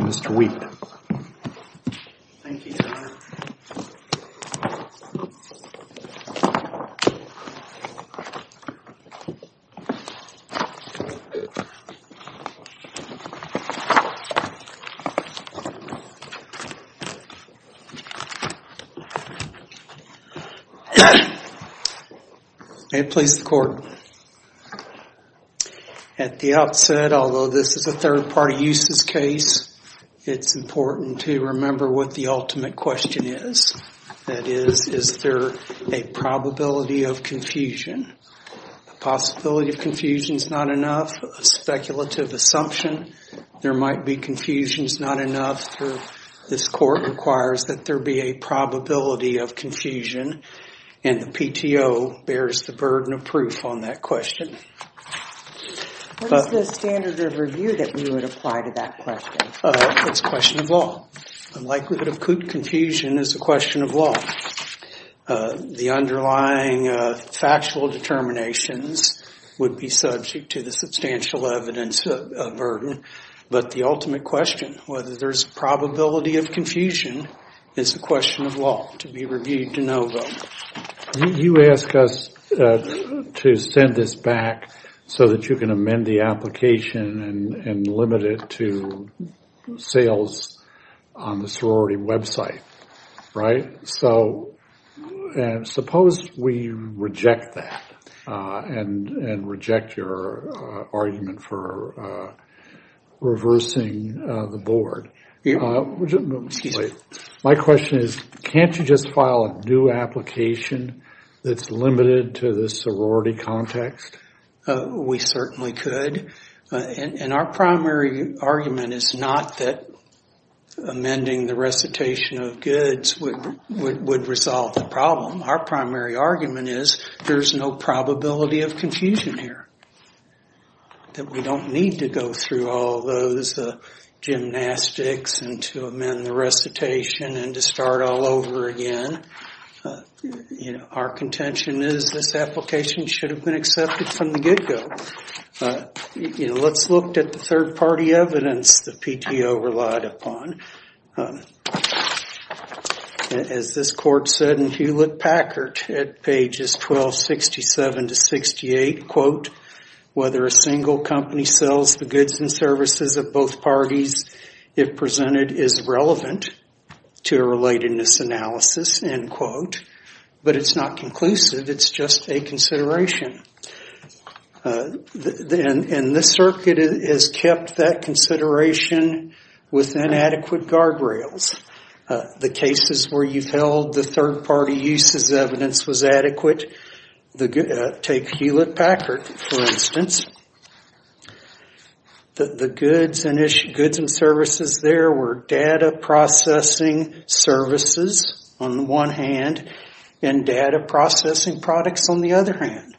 Mr. Wheaton. May it please the Court, At the outset, although this is a third-party uses case, it's important to remember what the ultimate question is. That is, is there a probability of confusion? A possibility of confusion is not enough. A speculative assumption there might be confusion is not enough. This Court requires that there be a probability of confusion, and the PTO bears the burden of proof on that question. What is the standard of review that you would apply to that question? It's a question of law. Unlikelihood of confusion is a question of law. The underlying factual determinations would be subject to the substantial evidence burden, but the ultimate question whether there's probability of confusion is a question of law to be reviewed de novo. You ask us to send this back so that you can amend the application and limit it to sales on the sorority website, right? Suppose we reject that and reject your argument for reversing the board. My question is, can't you just file a new application that's limited to the sorority context? We certainly could, and our primary argument is not that amending the recitation of goods would resolve the problem. Our primary argument is there's no probability of confusion here, that we don't need to go through all those gymnastics and to amend the recitation and to start all over again. Our contention is this application should have been accepted from the get-go. Let's look at the third-party evidence the PTO relied upon. As this Court said in Hewlett-Packard at pages 1267 to 68, quote, whether a single company sells the goods and services of both parties, if presented, is relevant to a relatedness analysis, end quote. But it's not conclusive. It's just a consideration. And this circuit has kept that consideration with inadequate guardrails. The cases where you've held the third-party uses evidence was adequate. Take Hewlett-Packard, for instance. The goods and services there were data processing services on the one hand and data processing products on the other hand.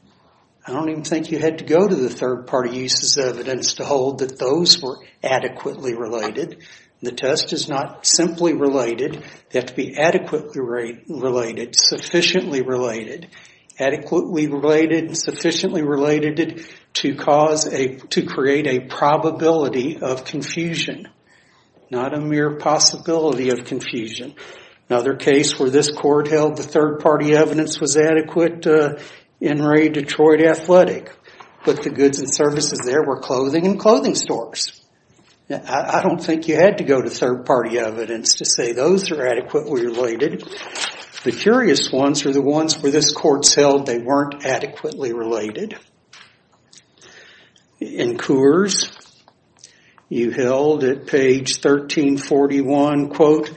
I don't even think you had to go to the third-party uses evidence to hold that those were adequately related. The test is not simply related. They have to be adequately related, sufficiently related. Adequately related and sufficiently related to create a probability of confusion, not a mere possibility of confusion. Another case where this Court held the third-party evidence was adequate in Ray Detroit Athletic, but the goods and services, of course. I don't think you had to go to third-party evidence to say those are adequately related. The curious ones are the ones where this Court held they weren't adequately related. In Coors, you held at page 1341, quote,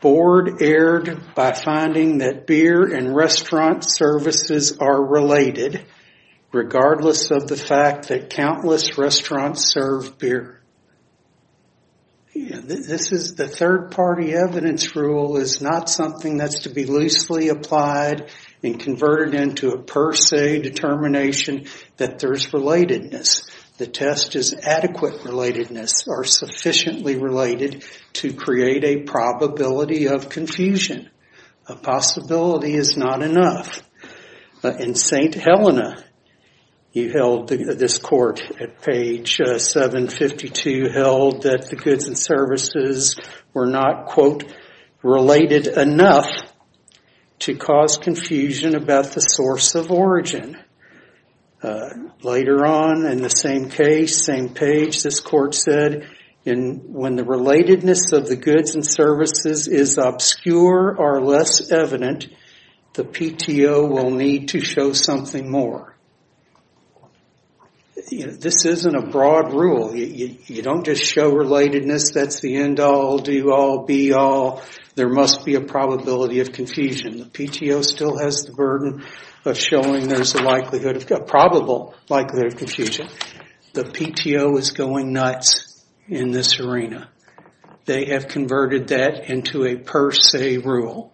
board aired by finding that beer and restaurant services are related, regardless of the fact that countless restaurants serve beer. This is the third-party evidence rule is not something that's to be loosely applied and converted into a per se determination that there's relatedness. The test is adequate relatedness or sufficiently related to create a probability of confusion. A possibility is not enough. In St. Helena, you held, this Court at page 752 held that the goods and services were not, quote, related enough to cause confusion about the source of origin. Later on in the same case, same page, this Court said when the relatedness of the goods and services is obscure or less evident, the PTO will need to show something more. This isn't a broad rule. You don't just show relatedness. That's the end all, do all, be all. There must be a probability of confusion. The PTO still has the burden of showing there's a likelihood, a probable likelihood of confusion. The PTO is going nuts in this arena. They have converted that into a per se rule.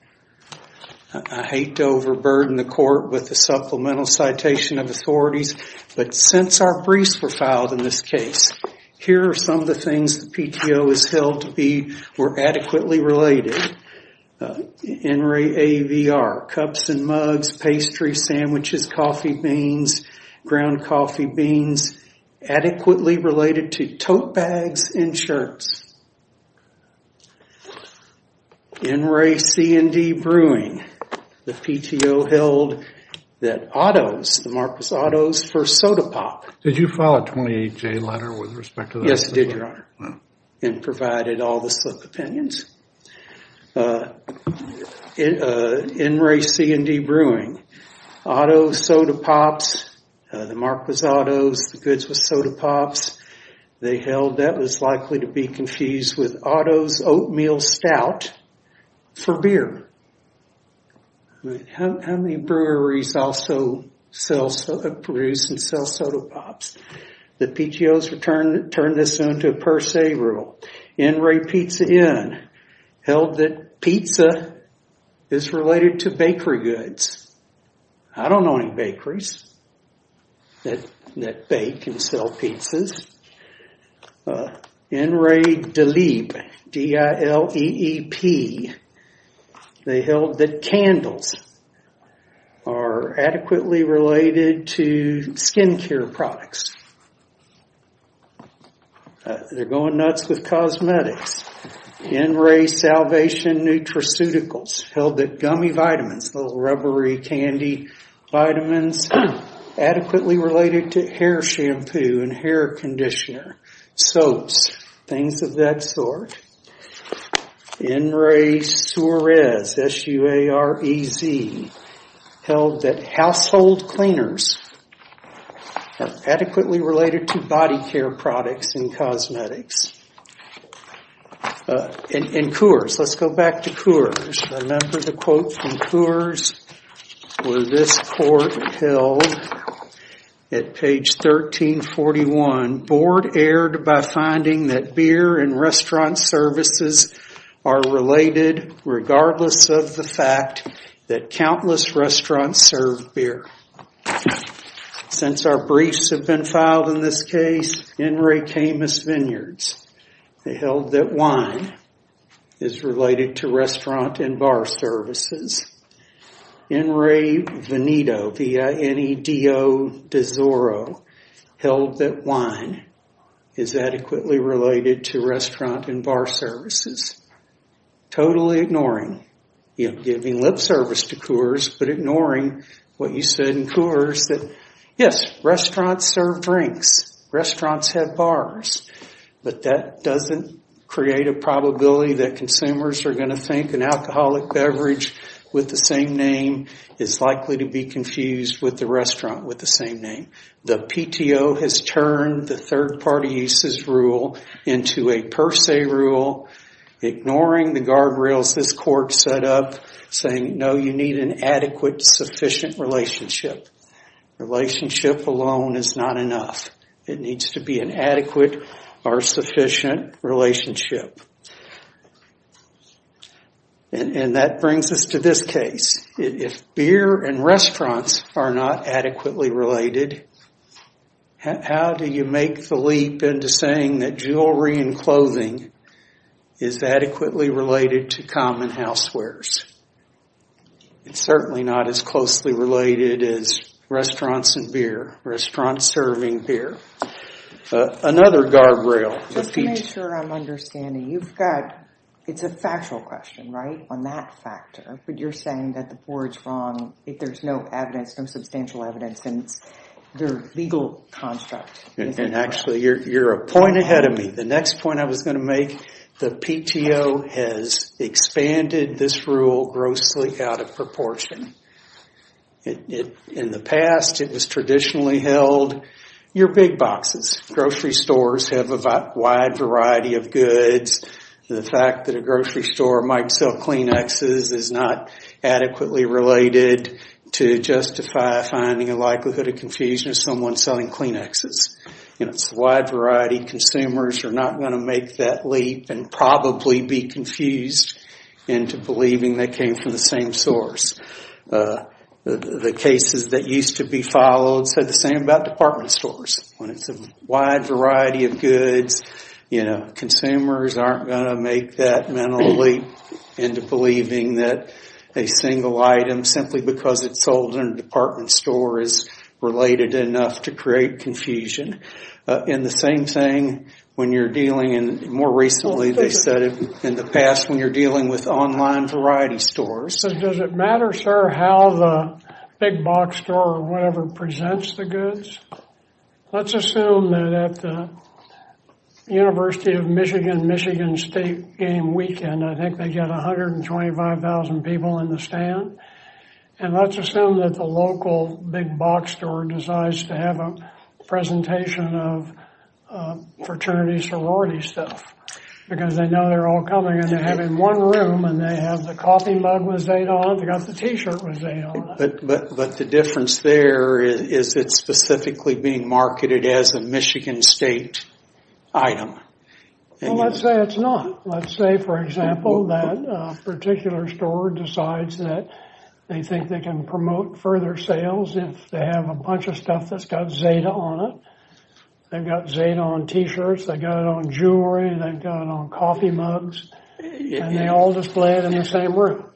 I hate to overburden the Court with a supplemental citation of authorities, but since our briefs were filed in this case, here are some of the things the PTO has held to be or adequately related. NRAAVR, cups and mugs, pastry, sandwiches, coffee beans, ground coffee beans, adequately related to tote bags and shirts. NRAA, C&D, brewing. The PTO held that Otto's, the Mark was Otto's, for soda pop. Did you file a 28J letter with respect to that? Yes, I did, Your Honor, and provided all the opinions. NRAA, C&D, brewing. Otto's, soda pops, the Mark was Otto's, the goods was soda pops. They held that was likely to be confused with Otto's oatmeal stout for beer. How many breweries also produce and sell soda pops? The PTO has turned this into a per se rule. NRAA, Pizza Inn, held that pizza is related to bakery goods. I don't know any bakeries that bake and sell pizzas. NRAA, Delete, D-I-L-E-E-P, they held that candles are adequately related to skin care products. They're going nuts with cosmetics. NRAA, Salvation Nutraceuticals, held that gummy vitamins, little rubbery candy vitamins, adequately related to hair shampoo and hair conditioner, soaps, things of that sort. NRAA, Suarez, S-U-A-R-E-Z, held that household cleaners are adequately related to body care products and cosmetics. And Coors, let's go back to Coors. Remember the quote from Coors where this court held at page 1341, board erred by finding that beer in restaurants services are related regardless of the fact that countless restaurants serve beer. Since our briefs have been filed in this case, NRAA, Caymus Vineyards, they held that wine is related to restaurant and bar services. NRAA, Veneto, V-I-N-E-D-O, held that wine is adequately related to restaurant and bar services. Totally ignoring, you know, giving lip service to Coors but ignoring what you said in Coors that yes, restaurants serve drinks, restaurants have bars, but that doesn't create a probability that consumers are going to think an alcoholic beverage with the same name is likely to be confused with the restaurant with the same name. The PTO has turned the third party uses rule into a per se rule, ignoring the guardrails this court set up saying no, you need an adequate sufficient relationship. Relationship alone is not enough. It needs to be an adequate or sufficient relationship. And that brings us to this case. If beer and restaurants are not adequately related, how do you make the leap into saying that jewelry and clothing is adequately related to common housewares? It's certainly not as closely related as restaurants and beer, restaurants serving beer. Another questioner, but you're saying that the board's wrong if there's no evidence, no substantial evidence in their legal construct. And actually, you're a point ahead of me. The next point I was going to make, the PTO has expanded this rule grossly out of proportion. In the past, it was traditionally held, you're big boxes. Grocery stores have a wide variety of goods. The fact that a grocery store might sell Kleenexes is not adequately related to justify finding a likelihood of confusion of someone selling Kleenexes. It's a wide variety. Consumers are not going to make that leap and probably be confused into believing they came from the same source. The cases that used to be followed said the same about department stores. When it's a wide variety of goods, consumers aren't going to make that mental leap into believing that a single item, simply because it's sold in a department store, is related enough to create confusion. And the same thing when you're dealing, more recently they said in the past, when you're dealing with online variety stores. Does it matter, sir, how the big box store or whatever presents the goods? Let's assume that at the University of Michigan, Michigan State game weekend, I think they get 125,000 people in the stand. And let's assume that the local big box store decides to have a presentation of fraternity sorority stuff, because they know they're all coming and they have in one room and they have the coffee mug with Zeta on it, they got the t-shirt with Zeta on it. But the difference there is it's specifically being marketed as a Michigan State item. Well, let's say it's not. Let's say, for example, that a particular store decides that they think they can promote further sales if they have a bunch of stuff that's got Zeta on it. They've got Zeta on t-shirts, they've got it on jewelry, they've got it on coffee mugs, and they all display it in the same room.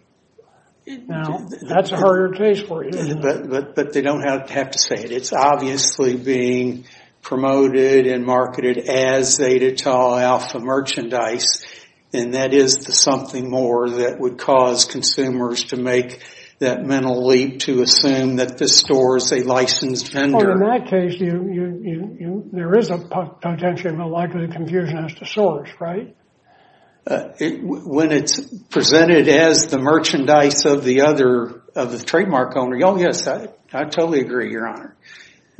Now, that's a harder case for you. But they don't have to say it. It's obviously being promoted and marketed as Zeta to Alpha merchandise, and that is the something more that would cause consumers to make that mental leap to assume that this store is a licensed vendor. Well, in that case, there is a potential likelihood of confusion as to source, right? When it's presented as the merchandise of the trademark owner, yes, I totally agree, Your Honor.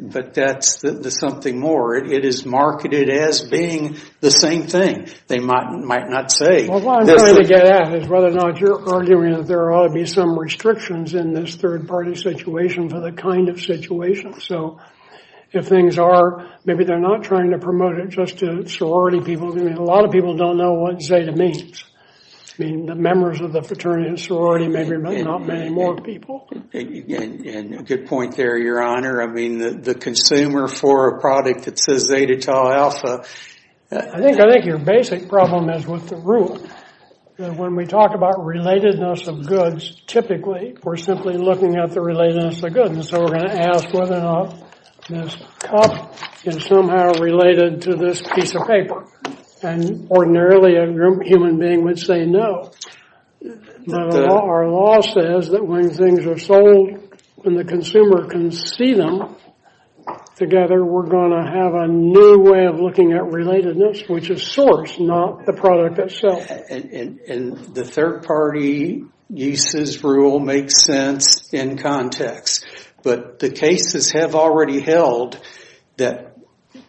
But that's the something more. It is marketed as being the same thing. They might not say. Well, what I'm trying to get at is whether or not you're arguing that there ought to be some restrictions in this third-party situation for the kind of situation. So if things are, maybe they're not trying to promote it just to sorority people. I mean, a lot of people don't know what Zeta means. I mean, the members of the fraternity and sorority, maybe not many more people. And a good point there, Your Honor. I mean, the consumer for a product that says Zeta to Alpha. I think your basic problem is with the rule. When we talk about relatedness of goods, typically, we're simply looking at the relatedness of goods. And so we're going to ask whether or not this cup is somehow related to this piece of paper. And ordinarily, a human being would say no. But our law says that when things are sold and the consumer can see them together, we're going to have a new way of looking at relatedness, which is source, not the product itself. And the third-party uses rule makes sense in context. But the cases have already held that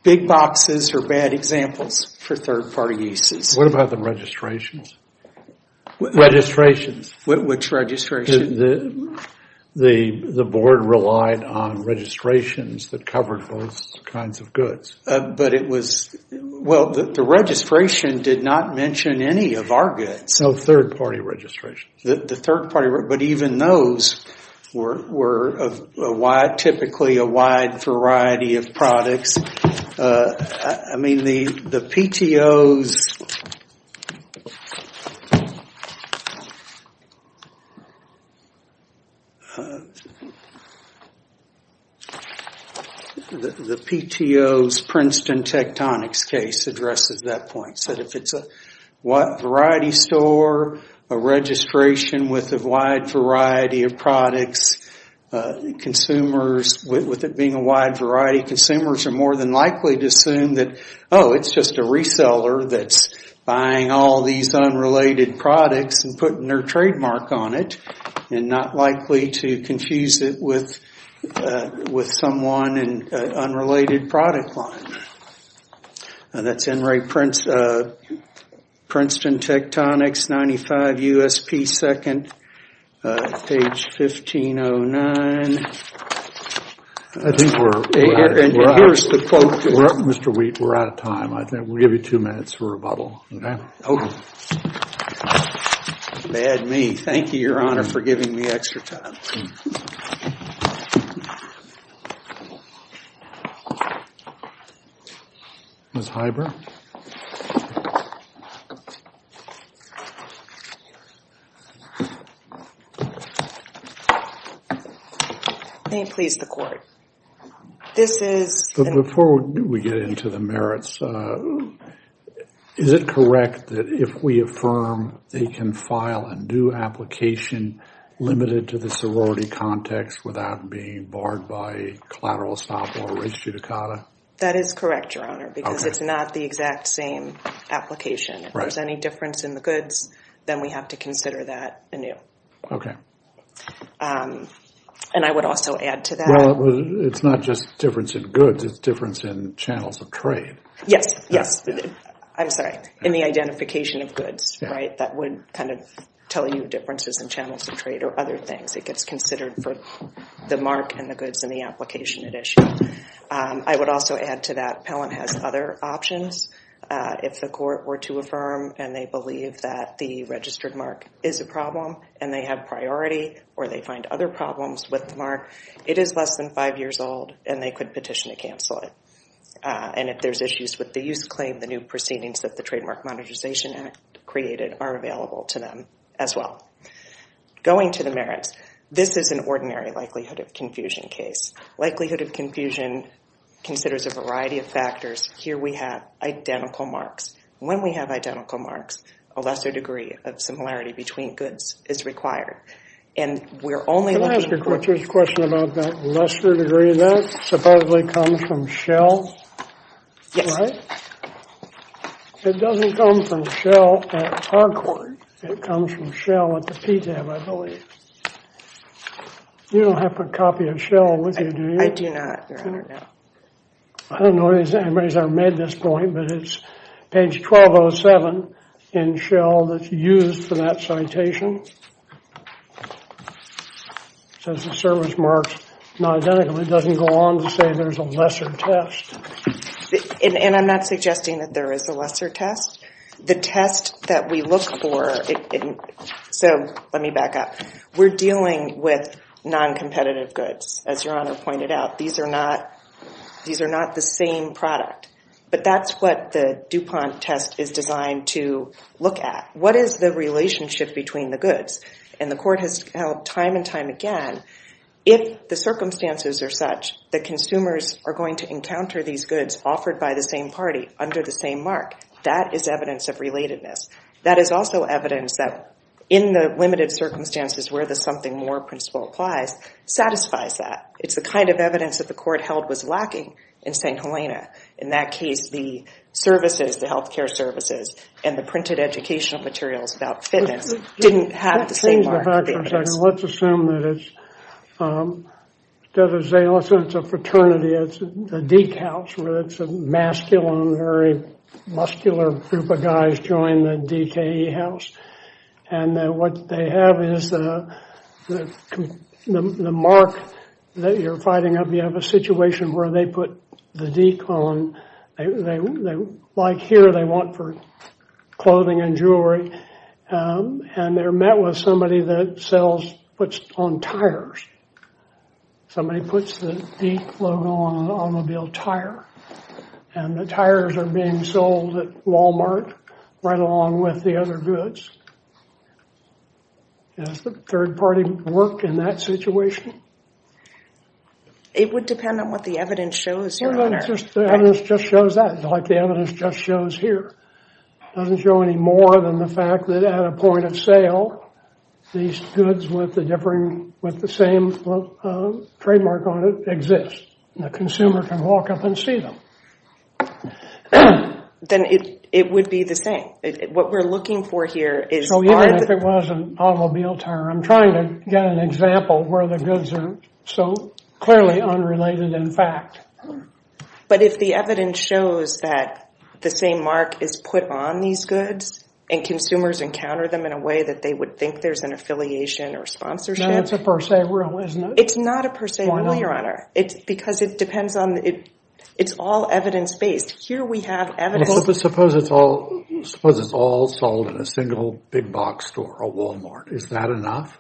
big boxes are bad examples for third-party uses. What about the registrations? Registrations? Which registration? The board relied on registrations that covered both kinds of goods. But it was, well, the registration did not mention any of our goods. No third-party registrations. The third-party, but even those were typically a wide variety of products. I mean, the PTO's Princeton Tectonics case addresses that point. It said if it's a variety store, a registration with a wide variety of products, consumers with it being a wide variety, consumers are more than likely to assume that, oh, it's just a reseller that's buying all these unrelated products and putting their trademark on it and not likely to confuse it with someone in an unrelated product line. That's in Princeton Tectonics, 95 USP 2nd, page 1509. I think we're out of time. Mr. Wheat, we're out of time. I think we'll give you two minutes for rebuttal. Okay. Bad me. Thank you, Your Honor, for giving me extra time. Ms. Heiber? May it please the Court. This is... Well, before we get into the merits, is it correct that if we affirm they can file a new application limited to the sorority context without being barred by collateral stop or res judicata? That is correct, Your Honor, because it's not the exact same application. If there's any difference in the goods, then we have to consider that anew. Okay. And I would also add to that... Well, it's not just difference in goods. It's difference in channels of trade. Yes. Yes. I'm sorry. In the identification of goods, right? That would kind of tell you differences in channels of trade or other things. It gets considered for the mark and the goods and the application it issued. I would also add to that Pellant has other options. If the Court were to affirm and they believe that the registered mark is a problem and they have priority or they find other problems with the mark, it is less than five years old and they could petition to cancel it. And if there's issues with the use claim, the new proceedings that the Trademark Monetization Act created are available to them as well. Going to the merits, this is an ordinary likelihood of confusion case. Likelihood of confusion considers a variety of factors. Here we have identical marks. When we have identical marks, a lesser degree of similarity between goods is required. And we're only... Can I ask a question about that lesser degree? That supposedly comes from Shell, right? Yes. It doesn't come from Shell at Harcourt. It comes from Shell at the PTAB, I believe. You don't have a copy of Shell with you, do you? I do not, Your Honor. No. I don't know if anybody's ever made this point, but it's page 1207 in Shell that's used for that citation. It says the service mark is not identical. It doesn't go on to say there's a lesser test. And I'm not suggesting that there is a lesser test. The test that we look for... So, let me back up. We're dealing with non-competitive goods, as Your Honor pointed out. These are not the same product. But that's what the DuPont test is designed to look at. What is the relationship between the goods? And the Court has held time and time again if the circumstances are such that consumers are going to encounter these goods offered by the same party under the same mark, that is evidence of relatedness. That is also evidence that in the limited circumstances where the something more principle applies satisfies that. It's the kind of evidence that the Court held was lacking in St. Helena. In that case, the services, the health care services, and the printed educational materials about fitness didn't have the same mark. Let's assume that it's a fraternity. It's the Deke House, where it's a masculine, very muscular group of guys that join the Deke House. And what they have is the mark that you're fighting up. You have a situation where they put the Deke on. Like here, they want for clothing and jewelry. And they're met with somebody that puts on tires. Somebody puts the Deke logo on an automobile tire. And the tires are being sold at Walmart right along with the other goods. Does the third party work in that situation? It would depend on what the evidence shows. The evidence just shows that, like the evidence just shows here. It doesn't show any more than the fact that at a point of sale, these goods with the same trademark on it exist. The consumer can walk up and see them. Then it would be the same. What we're looking for here is... So even if it was an automobile tire, I'm trying to get an example where the goods are so clearly unrelated in fact. But if the evidence shows that the same mark is put on these goods, and consumers encounter them in a way that they would think there's an affiliation or sponsorship... Then it's a per se rule, isn't it? It's not a per se rule, Your Honor. Because it depends on... It's all evidence-based. Here we have evidence... But suppose it's all sold in a single big box store, a Walmart. Is that enough?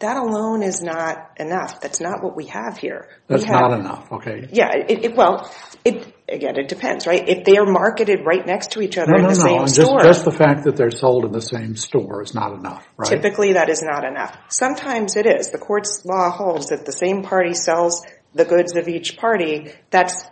That alone is not enough. That's not what we have here. That's not enough, okay. Well, again, it depends, right? If they are marketed right next to each other in the same store... No, no, no. Just the fact that they're sold in the same store is not enough, right? Typically, that is not enough. Sometimes it is. The court's law holds that the same party sells the goods of each party. That's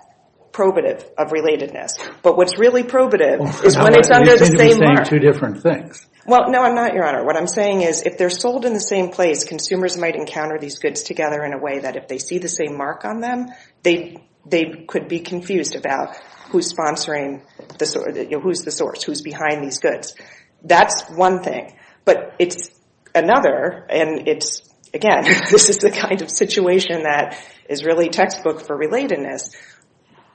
probative of relatedness. But what's really probative is when it's under the same mark. You seem to be saying two different things. Well, no, I'm not, Your Honor. What I'm saying is if they're sold in the same place, consumers might encounter these goods together in a way that if they see the same mark on them, they could be confused about who's sponsoring... Who's the source? Who's behind these goods? That's one thing. But it's another, and it's... Again, this is the kind of situation that is really textbook for relatedness.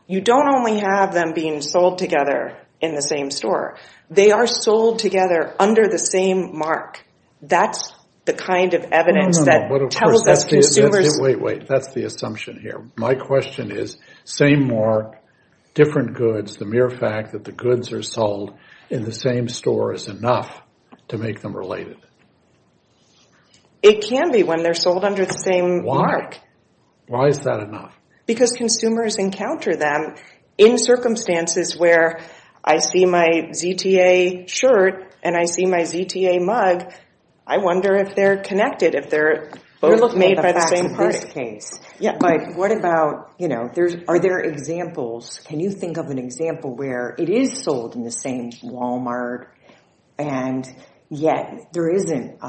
You don't only have them being sold together in the same store. They are sold together under the same mark. That's the kind of evidence that tells us consumers... No, no, no. But of course, that's the... Wait, wait. That's the assumption here. My question is same mark, different goods. The mere fact that the goods are sold in the same store is enough to make them related. It can be when they're sold under the same mark. Why? Why is that enough? Because consumers encounter them in circumstances where I see my ZTA shirt and I see my ZTA mug. I wonder if they're connected, if they're both made by the same person. You're looking at the facts of this case. But what about, you know, are there examples? Can you think of an example where it is sold in the same Walmart, and yet there isn't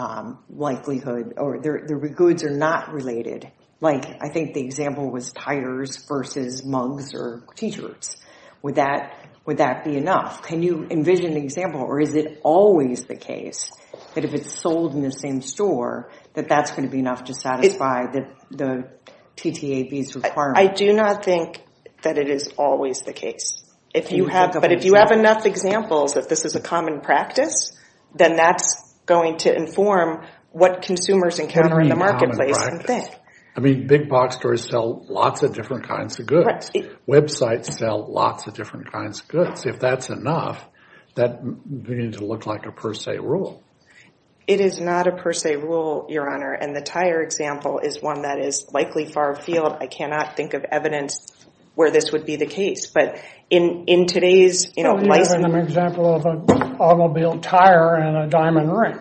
likelihood or the goods are not related? Like, I think the example was tires versus mugs or T-shirts. Would that be enough? Can you envision an example, or is it always the case that if it's sold in the same store, that that's going to be enough to satisfy the TTAB's requirement? I do not think that it is always the case. But if you have enough examples that this is a common practice, then that's going to inform what consumers encounter in the marketplace and think. I mean, big box stores sell lots of different kinds of goods. Websites sell lots of different kinds of goods. If that's enough, that would begin to look like a per se rule. It is not a per se rule, Your Honor, and the tire example is one that is likely far afield. I cannot think of evidence where this would be the case. But in today's, you know, licensing… So you're giving an example of an automobile tire and a diamond ring.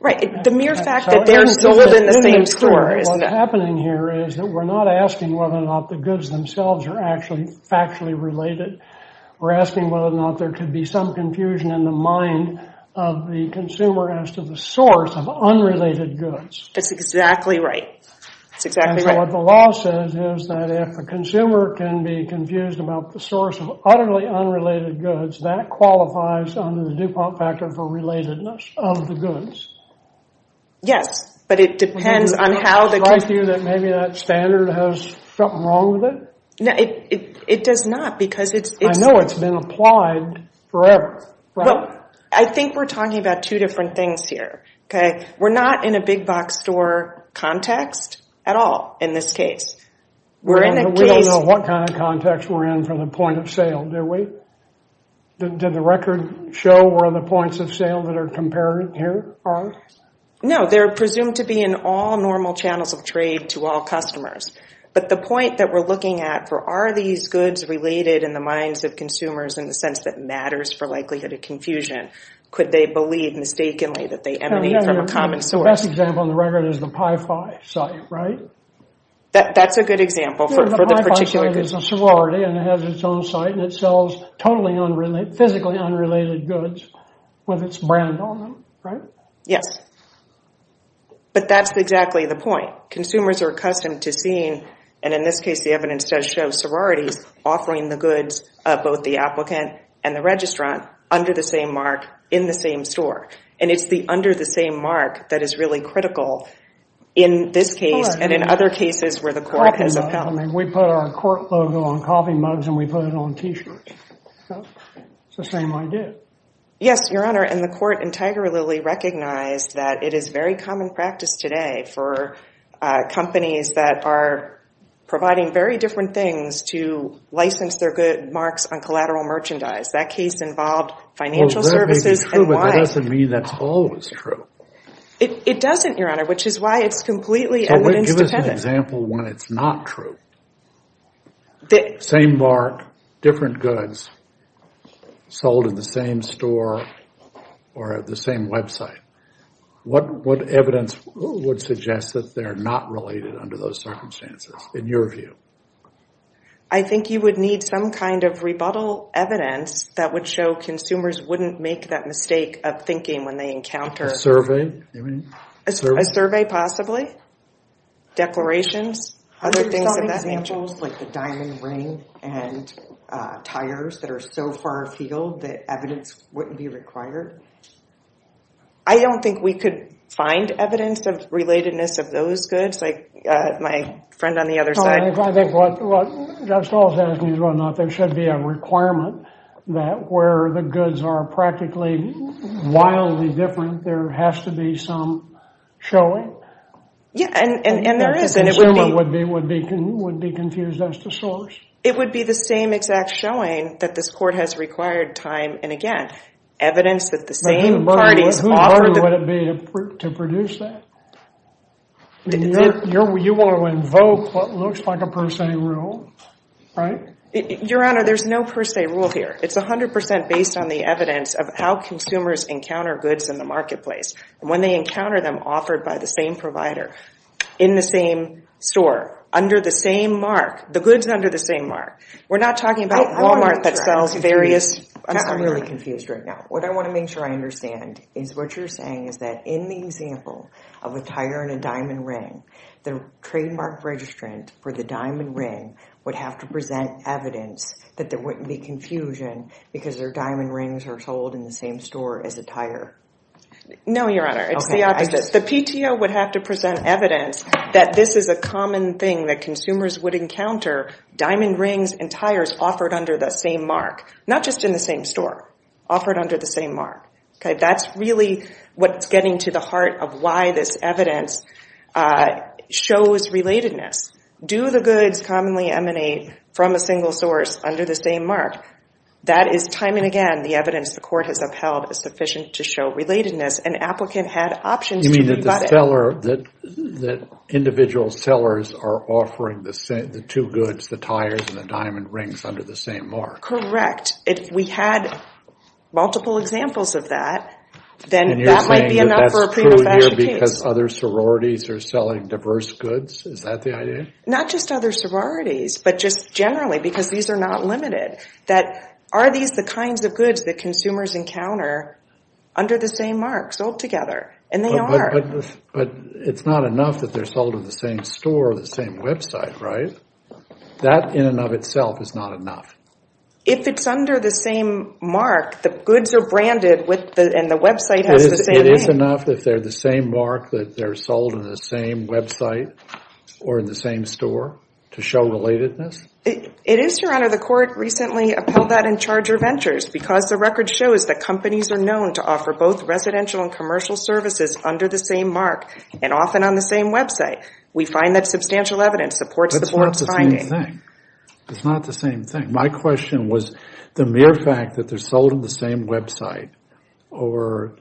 Right. The mere fact that they're sold in the same store is… What's happening here is that we're not asking whether or not the goods themselves are actually factually related. We're asking whether or not there could be some confusion in the mind of the consumer as to the source of unrelated goods. That's exactly right. That's exactly right. And so what the law says is that if a consumer can be confused about the source of utterly unrelated goods, that qualifies under the DuPont factor for relatedness of the goods. Yes, but it depends on how the… Does that strike you that maybe that standard has something wrong with it? No, it does not because it's… I know it's been applied forever. Well, I think we're talking about two different things here, okay? We're not in a big-box store context at all in this case. We're in a case… We don't know what kind of context we're in from the point of sale, do we? Did the record show where the points of sale that are compared here are? No, they're presumed to be in all normal channels of trade to all customers. But the point that we're looking at for are these goods related in the minds of consumers in the sense that matters for likelihood of confusion? Could they believe mistakenly that they emanate from a common source? The best example on the record is the PIE-5 site, right? That's a good example for the particular goods. The PIE-5 site is a sorority and it has its own site, and it sells totally physically unrelated goods with its brand on them, right? Yes, but that's exactly the point. Consumers are accustomed to seeing, and in this case the evidence does show, offering the goods of both the applicant and the registrant under the same mark in the same store. And it's the under the same mark that is really critical in this case and in other cases where the court has a felony. We put our court logo on coffee mugs and we put it on T-shirts. It's the same idea. Yes, Your Honor, and the court integrally recognized that it is very common practice today for companies that are providing very different things to license their good marks on collateral merchandise. That case involved financial services and why— Well, that may be true, but that doesn't mean that's always true. It doesn't, Your Honor, which is why it's completely evidence dependent. So give us an example when it's not true. Same mark, different goods, sold in the same store or at the same website. What evidence would suggest that they're not related under those circumstances in your view? I think you would need some kind of rebuttal evidence that would show consumers wouldn't make that mistake of thinking when they encounter— A survey? A survey, possibly. Declarations, other things of that nature. Have you thought of examples like the diamond ring and tires that are so far afield that evidence wouldn't be required? I don't think we could find evidence of relatedness of those goods. My friend on the other side— Well, I think what Jeff Stahl is asking is whether or not there should be a requirement that where the goods are practically wildly different, there has to be some showing. Yes, and there is, and it would be— Consumer would be confused as to source. It would be the same exact showing that this court has required time, and again, evidence that the same parties offered— Who would it be to produce that? You want to invoke what looks like a per se rule, right? Your Honor, there's no per se rule here. It's 100% based on the evidence of how consumers encounter goods in the marketplace. When they encounter them offered by the same provider, in the same store, under the same mark, the goods under the same mark. We're not talking about Walmart that sells various— I'm really confused right now. What I want to make sure I understand is what you're saying is that in the example of a tire and a diamond ring, the trademark registrant for the diamond ring would have to present evidence that there wouldn't be confusion because their diamond rings are sold in the same store as a tire. No, Your Honor. It's the opposite. The PTO would have to present evidence that this is a common thing that consumers would encounter. Diamond rings and tires offered under the same mark. Not just in the same store. Offered under the same mark. That's really what's getting to the heart of why this evidence shows relatedness. Do the goods commonly emanate from a single source under the same mark? That is, time and again, the evidence the Court has upheld is sufficient to show relatedness. An applicant had options to— That individual sellers are offering the two goods, the tires and the diamond rings, under the same mark. Correct. If we had multiple examples of that, then that might be enough for a pre-professional case. And you're saying that that's true here because other sororities are selling diverse goods? Is that the idea? Not just other sororities, but just generally because these are not limited. That are these the kinds of goods that consumers encounter under the same mark, sold together? And they are. But it's not enough that they're sold in the same store or the same website, right? That in and of itself is not enough. If it's under the same mark, the goods are branded and the website has the same name. It is enough if they're the same mark that they're sold in the same website or in the same store to show relatedness? It is, Your Honor. The Court recently upheld that in Charger Ventures because the record shows that companies are known to offer both residential and commercial services under the same mark and often on the same website. We find that substantial evidence supports the Court's finding. That's not the same thing. That's not the same thing. My question was the mere fact that they're sold on the same website or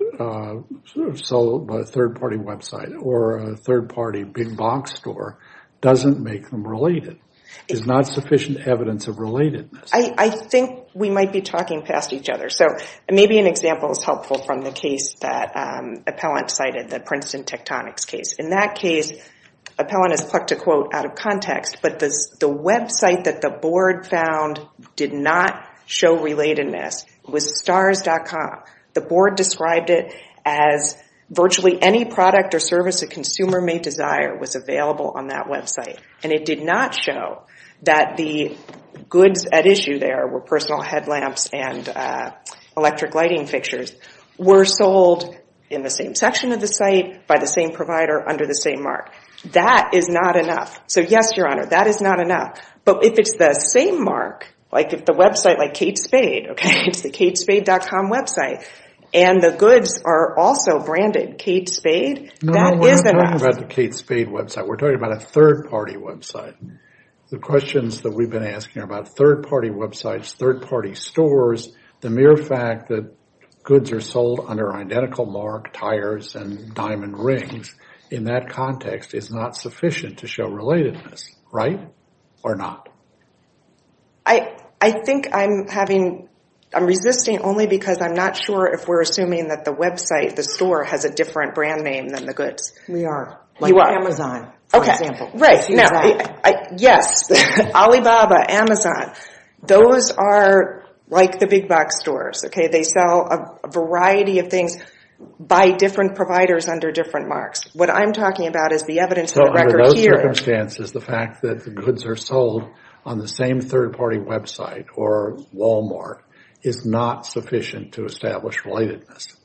sold by a third-party website or a third-party big box store doesn't make them related. There's not sufficient evidence of relatedness. I think we might be talking past each other. Maybe an example is helpful from the case that Appellant cited, the Princeton Tectonics case. In that case, Appellant has plucked a quote out of context, but the website that the Board found did not show relatedness was stars.com. The Board described it as virtually any product or service a consumer may desire was available on that website, and it did not show that the goods at issue there were personal headlamps and electric lighting fixtures were sold in the same section of the site by the same provider under the same mark. That is not enough. So, yes, Your Honor, that is not enough. But if it's the same mark, like if the website like Kate Spade, okay, it's the katespade.com website, and the goods are also branded Kate Spade, that is enough. We're not talking about the Kate Spade website. We're talking about a third-party website. The questions that we've been asking are about third-party websites, third-party stores. The mere fact that goods are sold under identical mark, tires, and diamond rings in that context is not sufficient to show relatedness, right, or not? I think I'm resisting only because I'm not sure if we're assuming that the website, the store, has a different brand name than the goods. We are, like Amazon, for example. Okay, right. Yes, Alibaba, Amazon, those are like the big-box stores, okay? They sell a variety of things by different providers under different marks. What I'm talking about is the evidence of the record here. So under those circumstances, the fact that the goods are sold on the same third-party website or Walmart is not sufficient to establish relatedness?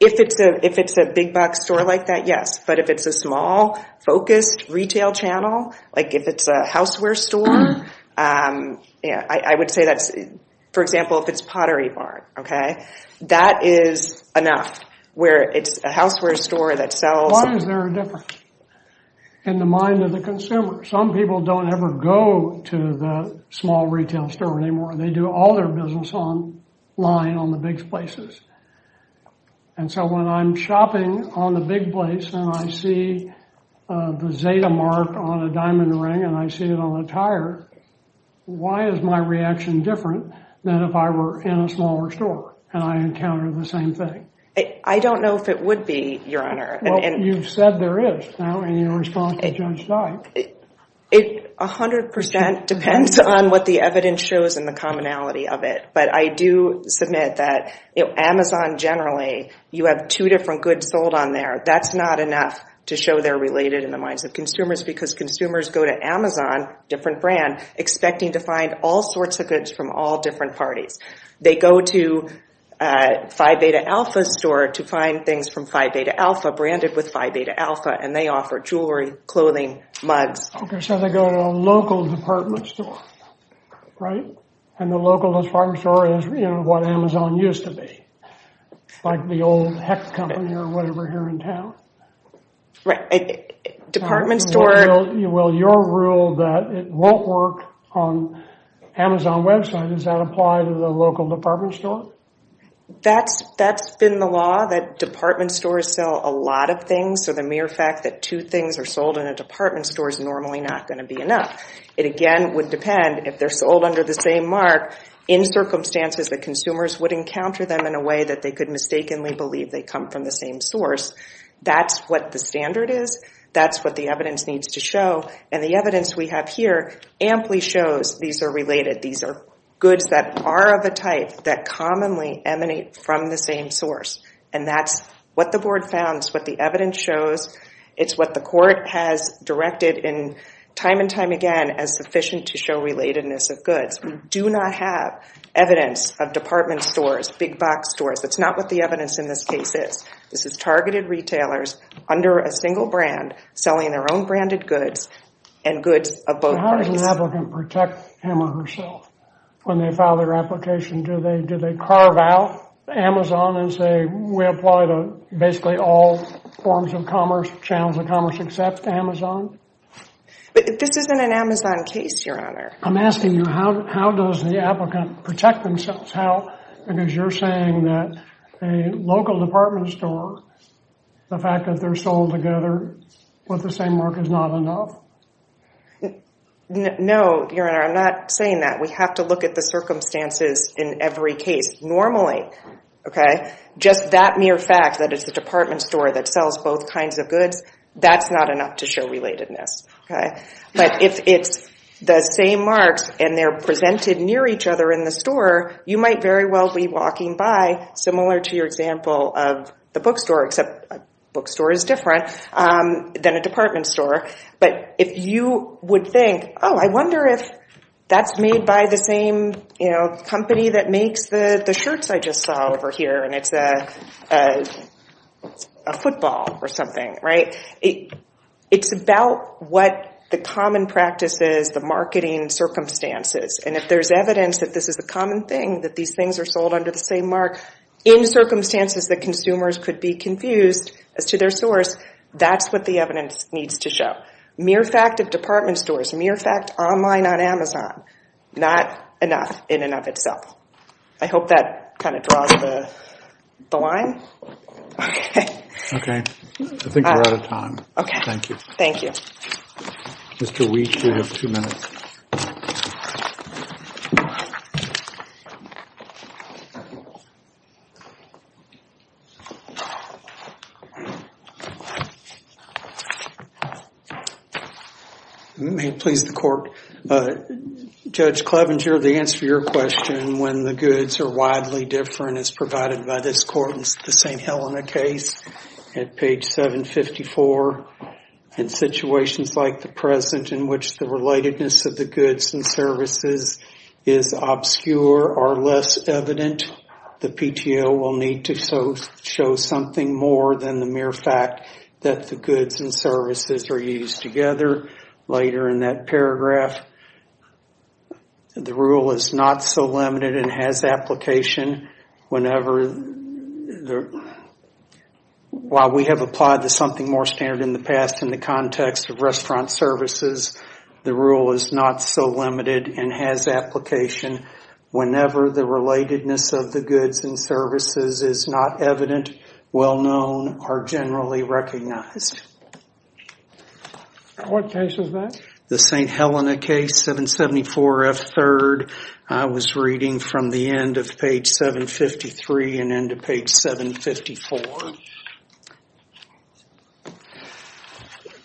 If it's a big-box store like that, yes. But if it's a small, focused retail channel, like if it's a houseware store, I would say that's, for example, if it's Pottery Barn, okay, that is enough where it's a houseware store that sells. Why is there a difference in the mind of the consumer? Some people don't ever go to the small retail store anymore. They do all their business online on the big places. And so when I'm shopping on the big place and I see the Zeta mark on a diamond ring and I see it on a tire, why is my reaction different than if I were in a smaller store and I encountered the same thing? I don't know if it would be, Your Honor. Well, you've said there is now in your response to Judge Dyke. A hundred percent depends on what the evidence shows and the commonality of it. But I do submit that Amazon generally, you have two different goods sold on there. That's not enough to show they're related in the minds of consumers because consumers go to Amazon, different brand, expecting to find all sorts of goods from all different parties. They go to Phi Beta Alpha's store to find things from Phi Beta Alpha, and they offer jewelry, clothing, mugs. So they go to a local department store, right? And the local department store is, you know, what Amazon used to be, like the old Hex company or whatever here in town. Right. Department store. Well, your rule that it won't work on Amazon website, does that apply to the local department store? That's been the law, that department stores sell a lot of things. So the mere fact that two things are sold in a department store is normally not going to be enough. It, again, would depend if they're sold under the same mark, in circumstances that consumers would encounter them in a way that they could mistakenly believe they come from the same source. That's what the standard is. That's what the evidence needs to show. And the evidence we have here amply shows these are related. These are goods that are of a type that commonly emanate from the same source. And that's what the board found. That's what the evidence shows. It's what the court has directed time and time again as sufficient to show relatedness of goods. We do not have evidence of department stores, big box stores. That's not what the evidence in this case is. This is targeted retailers under a single brand selling their own branded goods and goods of both parties. How does an applicant protect him or herself when they file their application? Do they carve out Amazon and say, we apply to basically all forms of commerce, channels of commerce, except Amazon? But this isn't an Amazon case, Your Honor. I'm asking you, how does the applicant protect themselves? How, because you're saying that a local department store, the fact that they're sold together with the same mark is not enough? No, Your Honor, I'm not saying that. We have to look at the circumstances in every case normally. Just that mere fact that it's a department store that sells both kinds of goods, that's not enough to show relatedness. But if it's the same marks and they're presented near each other in the store, you might very well be walking by, similar to your example of the bookstore, except a bookstore is different than a department store. But if you would think, oh, I wonder if that's made by the same company that makes the shirts I just saw over here, and it's a football or something. It's about what the common practice is, the marketing circumstances. And if there's evidence that this is a common thing, that these things are sold under the same mark, in circumstances that consumers could be confused as to their source, that's what the evidence needs to show. Mere fact of department stores, mere fact online on Amazon, not enough in and of itself. I hope that kind of draws the line. Okay. Okay. I think we're out of time. Okay. Thank you. Thank you. Mr. Wheat, you have two minutes. May it please the court. Judge Clevenger, the answer to your question, when the goods are widely different as provided by this court in the St. Helena case, at page 754, in situations like the present in which the relatedness of the goods and services is obscure or less evident, the PTO will need to show something more than the mere fact that the goods and services are used together. Later in that paragraph, the rule is not so limited and has application whenever, while we have applied to something more standard in the past in the context of restaurant services, the rule is not so limited and has application whenever the relatedness of the goods and services is not evident, well-known, or generally recognized. What case is that? The St. Helena case, 774F3rd. I was reading from the end of page 753 and end of page 754.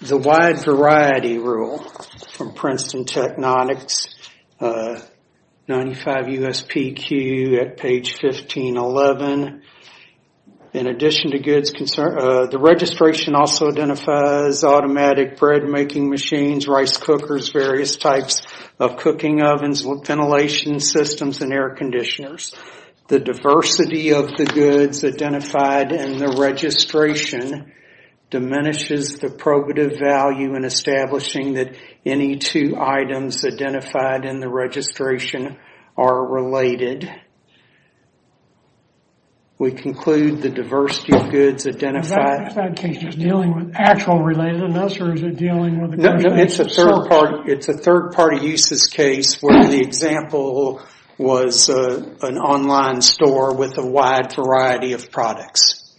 The wide variety rule from Princeton Technonics, 95 USPQ at page 1511. In addition to goods concerned, the registration also identifies automatic bread-making machines, rice cookers, various types of cooking ovens, ventilation systems, and air conditioners. The diversity of the goods identified in the registration diminishes the probative value in establishing that any two items identified in the registration are related. We conclude the diversity of goods identified... Is that case dealing with actual relatedness or is it dealing with... No, it's a third-party uses case where the example was an online store with a wide variety of products.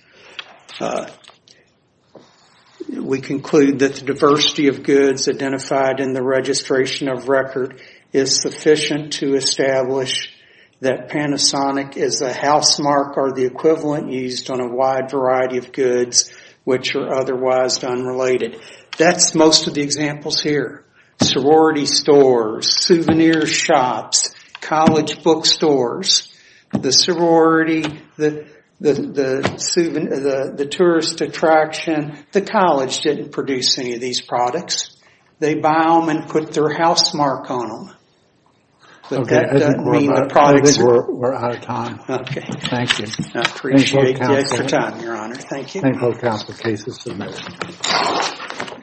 We conclude that the diversity of goods identified in the registration of record is sufficient to establish that Panasonic is a housemark or the equivalent used on a wide variety of goods which are otherwise unrelated. That's most of the examples here. Sorority stores, souvenir shops, college bookstores, the tourist attraction, the college didn't produce any of these products. They buy them and put their housemark on them. But that doesn't mean the products... I think we're out of time. Okay. Thank you. I appreciate the extra time, Your Honor. Thank you. Thank you for the case's submission.